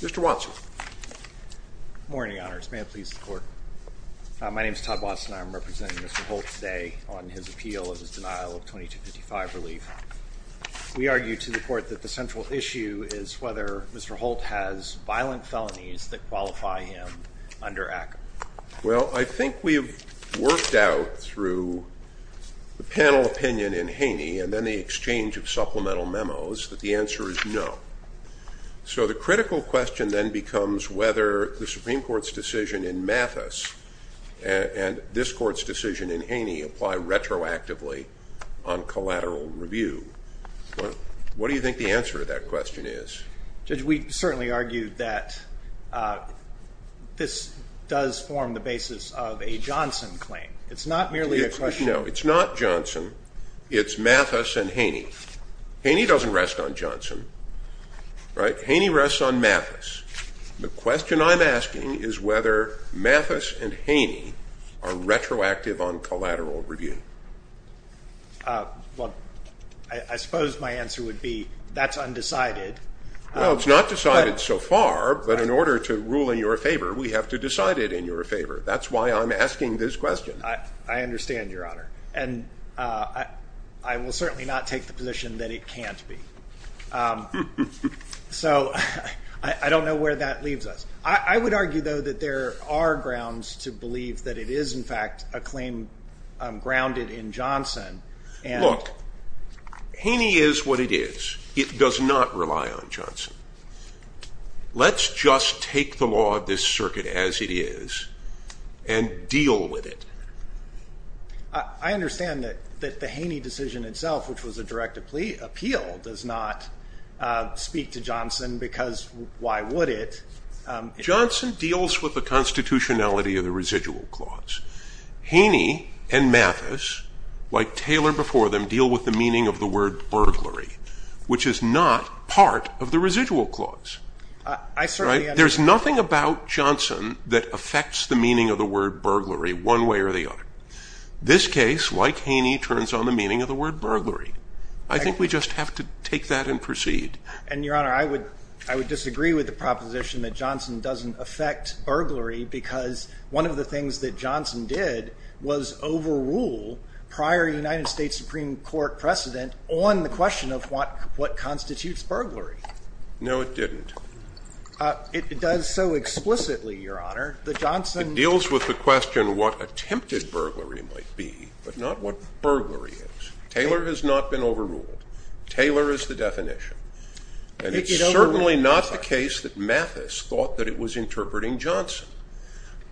Mr. Watson. Good morning, Your Honors. May it please the Court. My name is Todd Watson. I am representing Mr. Holt today on his appeal of his denial of 2255 relief. We argue to the Court that the central issue is whether Mr. Holt has violent felonies that qualify him under ACCA. Well, I think we've worked out through the panel opinion in Haney and then the exchange of supplemental memos that the answer is no. So the critical question then becomes whether the Supreme Court's decision in Mathis and this Court's decision in Haney apply retroactively on collateral review. What do you think the answer to that question is? Judge, we certainly argue that this does form the basis of a Johnson claim. It's not merely a question of... No, it's not Johnson. It's Mathis and Haney. Haney doesn't rest on Johnson, right? Haney rests on Mathis. The question I'm asking is whether Mathis and Haney are retroactive on collateral review. Well, I suppose my answer would be that's undecided. Well, it's not decided so far, but in order to rule in your favor, we have to decide it in your favor. That's why I'm asking this question. I understand, Your Honor, and I will certainly not take the position that it can't be. So I don't know where that goes, to believe that it is in fact a claim grounded in Johnson. Look, Haney is what it is. It does not rely on Johnson. Let's just take the law of this circuit as it is and deal with it. I understand that the Haney decision itself, which was a direct appeal, does not speak to Johnson because why would it? Johnson deals with the constitutionality of the residual clause. Haney and Mathis, like Taylor before them, deal with the meaning of the word burglary, which is not part of the residual clause. There's nothing about Johnson that affects the meaning of the word burglary one way or the other. This case, like Haney, turns on the meaning of the word burglary. I think we just have to take that and proceed. And, Your Honor, I would disagree with the proposition that Johnson doesn't affect burglary because one of the things that Johnson did was overrule prior United States Supreme Court precedent on the question of what constitutes burglary. No, it didn't. It does so explicitly, Your Honor, that Johnson It deals with the question of what attempted burglary might be, but not what burglary is. Taylor has not been overruled. Taylor is the definition, and it's certainly not the case that Mathis thought that it was interpreting Johnson.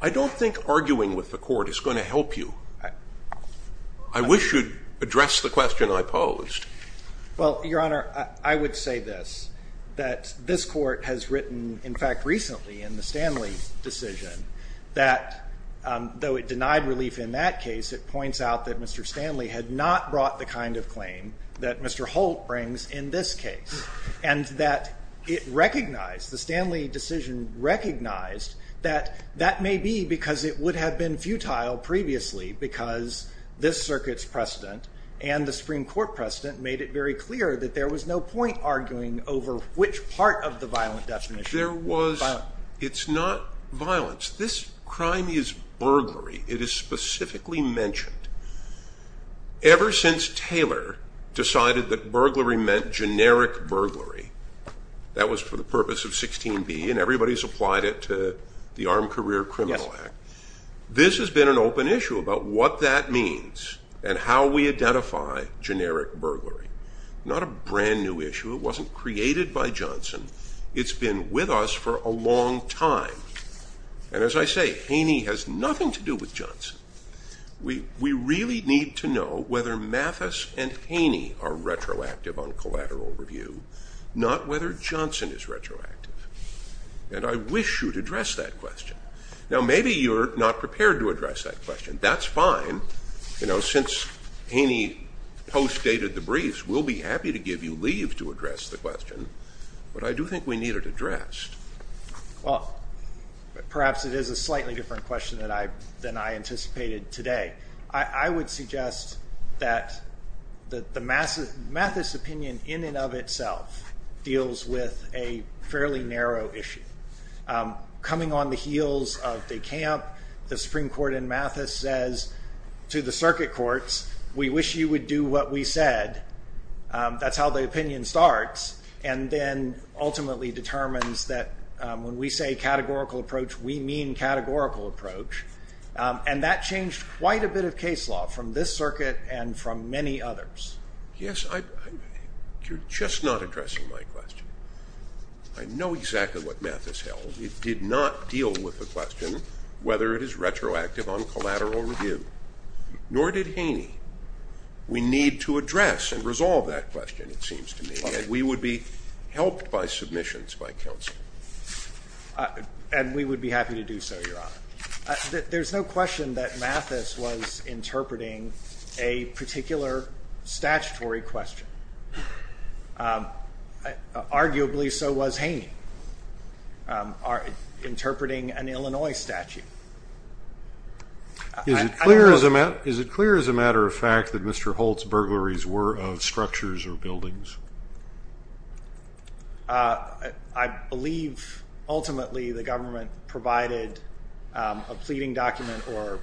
I don't think arguing with the court is going to help you. I wish you'd address the question I posed. Well, Your Honor, I would say this, that this court has written, in fact, recently in the Stanley decision that, though it denied relief in that case, it points out that Mr. Stanley had not brought the kind of claim that Mr. Holt brings in this case, and that it recognized, the Stanley decision recognized that that may be because it would have been futile previously because this circuit's precedent and the Supreme Court precedent made it very clear that there was no point arguing over which part of the violent definition was violent. It's not violence. This crime is burglary. It is specifically mentioned. Ever since Taylor decided that burglary meant generic burglary, that was for the purpose of 16b, and everybody's applied it to the Armed Career Criminal Act, this has been an open issue about what that means and how we identify generic burglary. Not a brand new issue. It wasn't created by Haney for a long time. And as I say, Haney has nothing to do with Johnson. We really need to know whether Mathis and Haney are retroactive on collateral review, not whether Johnson is retroactive. And I wish you'd address that question. Now, maybe you're not prepared to address that question. That's fine. You know, since Haney post-dated the briefs, we'll be happy to give you leave to address the question. But I do think we need it addressed. Well, perhaps it is a slightly different question than I anticipated today. I would suggest that the Mathis opinion in and of itself deals with a fairly narrow issue. Coming on the heels of the camp, the Supreme Court in Mathis says to the circuit courts, we wish you would do what we said. That's how the opinion starts, and then ultimately determines that when we say categorical approach, we mean categorical approach. And that changed quite a bit of case law from this circuit and from many others. Yes, you're just not addressing my question. I know exactly what Mathis held. It did not deal with the question whether it is retroactive on collateral review, nor did Haney. We need to address and resolve that question, it seems to me, and we would be helped by submissions by counsel. And we would be happy to do so, Your Honor. There's no question that Mathis was interpreting a particular statutory question. Arguably, so was Haney interpreting an Illinois statute. Is it clear, as a matter of fact, that Mr. Holt's burglaries were of structures or buildings? I believe, ultimately, the government provided a pleading document or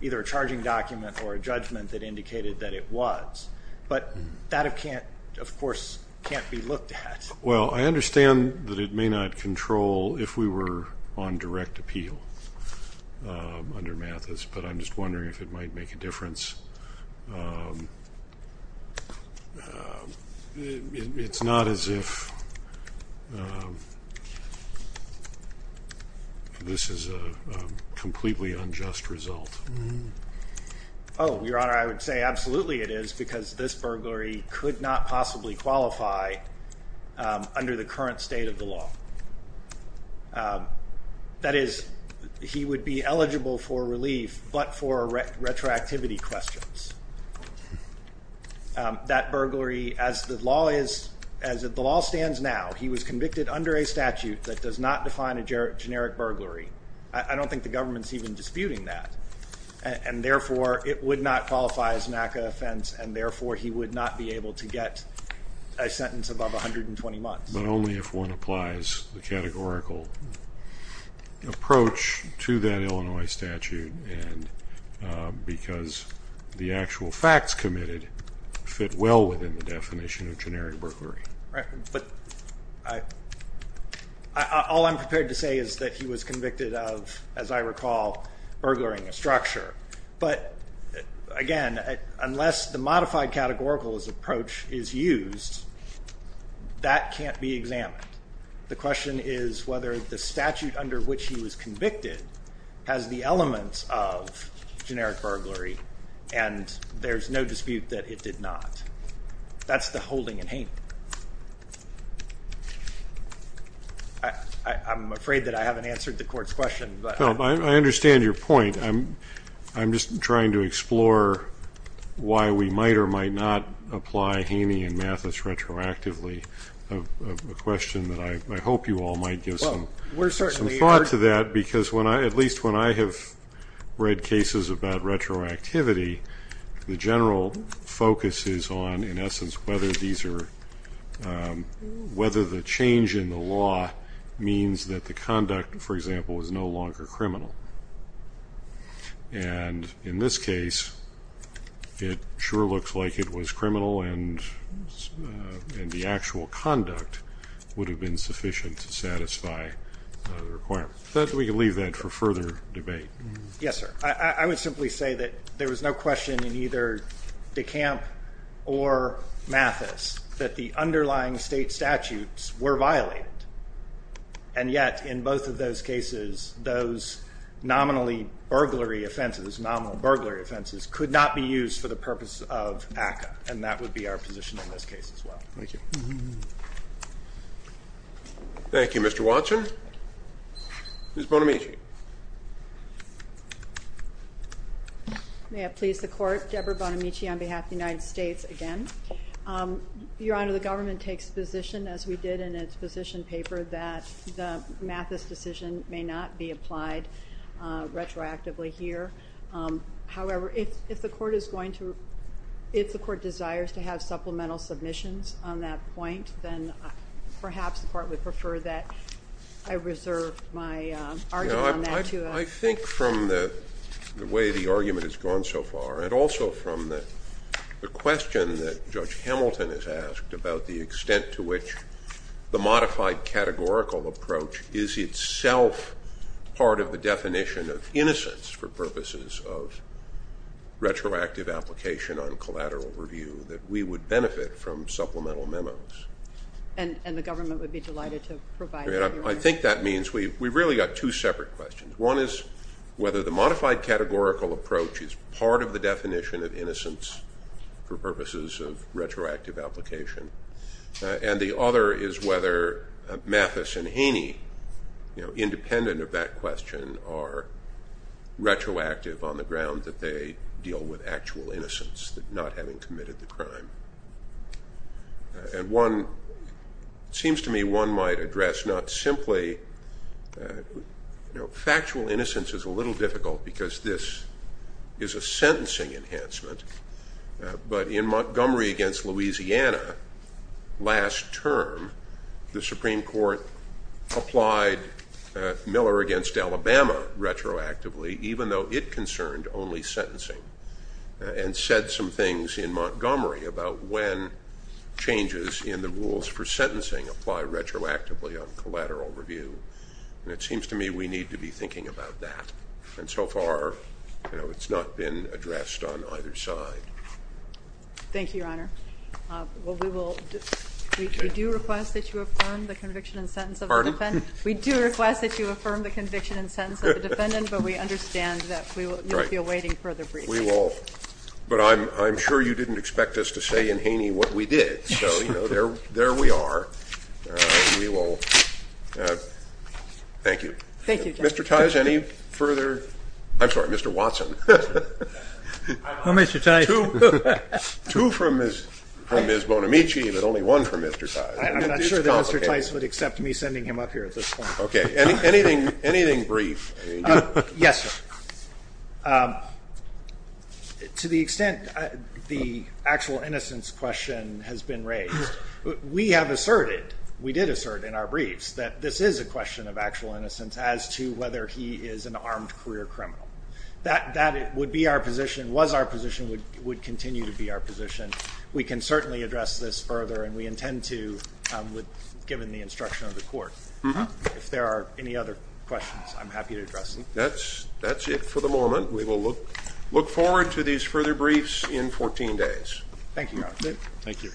either a charging document or a judgment that indicated that it was. But that, of course, can't be looked at. Well, I understand that it may not control if we were on direct appeal under Mathis, but I'm just wondering if it might make a difference. It's not as if this is a completely unjust result. Oh, Your Honor, I would say absolutely it is, because this burglary could not possibly qualify under the current state of the law. That is, he would be eligible for relief, but for retroactivity questions. That burglary, as the law stands now, he was convicted under a statute that does not define a generic burglary. I don't think the government's even disputing that, and therefore it would not qualify as an ACCA offense, and therefore he would not be able to get a sentence above 120 months. But only if one applies the categorical approach to that Illinois statute, and because the actual facts committed fit well within the definition of generic burglary. But all I'm prepared to say is that he was convicted of, as I recall, burglary in the structure. But again, unless the modified categorical approach is used, that can't be examined. The question is whether the statute under which he was convicted has the elements of generic burglary, and there's no dispute that it did not. That's the holding in Haney. I'm afraid that I haven't answered the Court's question. I understand your point. I'm just trying to explore why we might or might not apply Haney and Mathis retroactively, a question that I hope you all might give some thought to that, because at least when I have read cases about retroactivity, the general focus is on, in essence, whether the change in the law means that the conduct, for example, is no longer criminal. And in this case, it sure looks like it was criminal, and the actual conduct would have been sufficient to satisfy the requirement. We can leave that for further debate. Yes, sir. I would simply say that there was no question in either DeCamp or Mathis that the underlying state statutes were violated. And yet, in both of those cases, those nominally burglary offenses, nominal burglary offenses, could not be used for the purpose of ACCA, and that would be our position in this case as well. Thank you. Thank you, Mr. Watson. Ms. Bonamici. May it please the Court. Deborah Bonamici on behalf of the United States again. Your Honor, the government takes position, as we did in its position paper, that the Mathis decision may not be applied retroactively here. However, if the Court desires to have supplemental submissions on that point, then perhaps the Court would prefer that I reserve my argument on that. I think from the way the argument has gone so far, and also from the question that Judge Hamilton has asked about the extent to which the modified categorical approach is itself part of the definition of retroactive application on collateral review, that we would benefit from supplemental memos. And the government would be delighted to provide that, Your Honor. I think that means we've really got two separate questions. One is whether the modified categorical approach is part of the definition of innocence for purposes of retroactive application. And the other is whether Mathis and Haney, independent of that question, are retroactive on the ground that they deal with actual innocence, not having committed the crime. And one seems to me one might address not simply factual innocence is a little difficult because this is a sentencing enhancement, but in Montgomery against Louisiana last term, the Supreme Court applied Miller against Alabama retroactively, even though it concerned only sentencing, and said some things in Montgomery about when changes in the rules for sentencing apply retroactively on collateral review. And it seems to me we need to be thinking about that. And so far, you know, it's not been addressed on either side. Thank you, Your Honor. Well, we will do request that you affirm the conviction and sentence of the defendant. We do request that you affirm the conviction and sentence of the defendant, but we understand that we will be awaiting further briefings. We will. But I'm sure you didn't expect us to say in Haney what we did. So, you know, there we are. We will. Thank you. Thank you, Judge. Mr. Tice, any further? I'm sorry, Mr. Watson. Well, Mr. Tice. Two from Ms. Bonamici, but only one from Mr. Tice. I'm not sure that Mr. Tice would accept me sending him up here at this point. Okay. Anything brief? Yes, sir. To the extent the actual innocence question has been raised, we have asserted, we did assert in our briefs, that this is a question of actual innocence as to whether he is an armed career criminal. That would be our position, was our position, would continue to be our position. We can certainly address this further, and we intend to given the instruction of the court. If there are any other questions, I'm happy to address them. That's it for the moment. We will look forward to these further briefs in 14 days. Thank you, Your Honor. Thank you.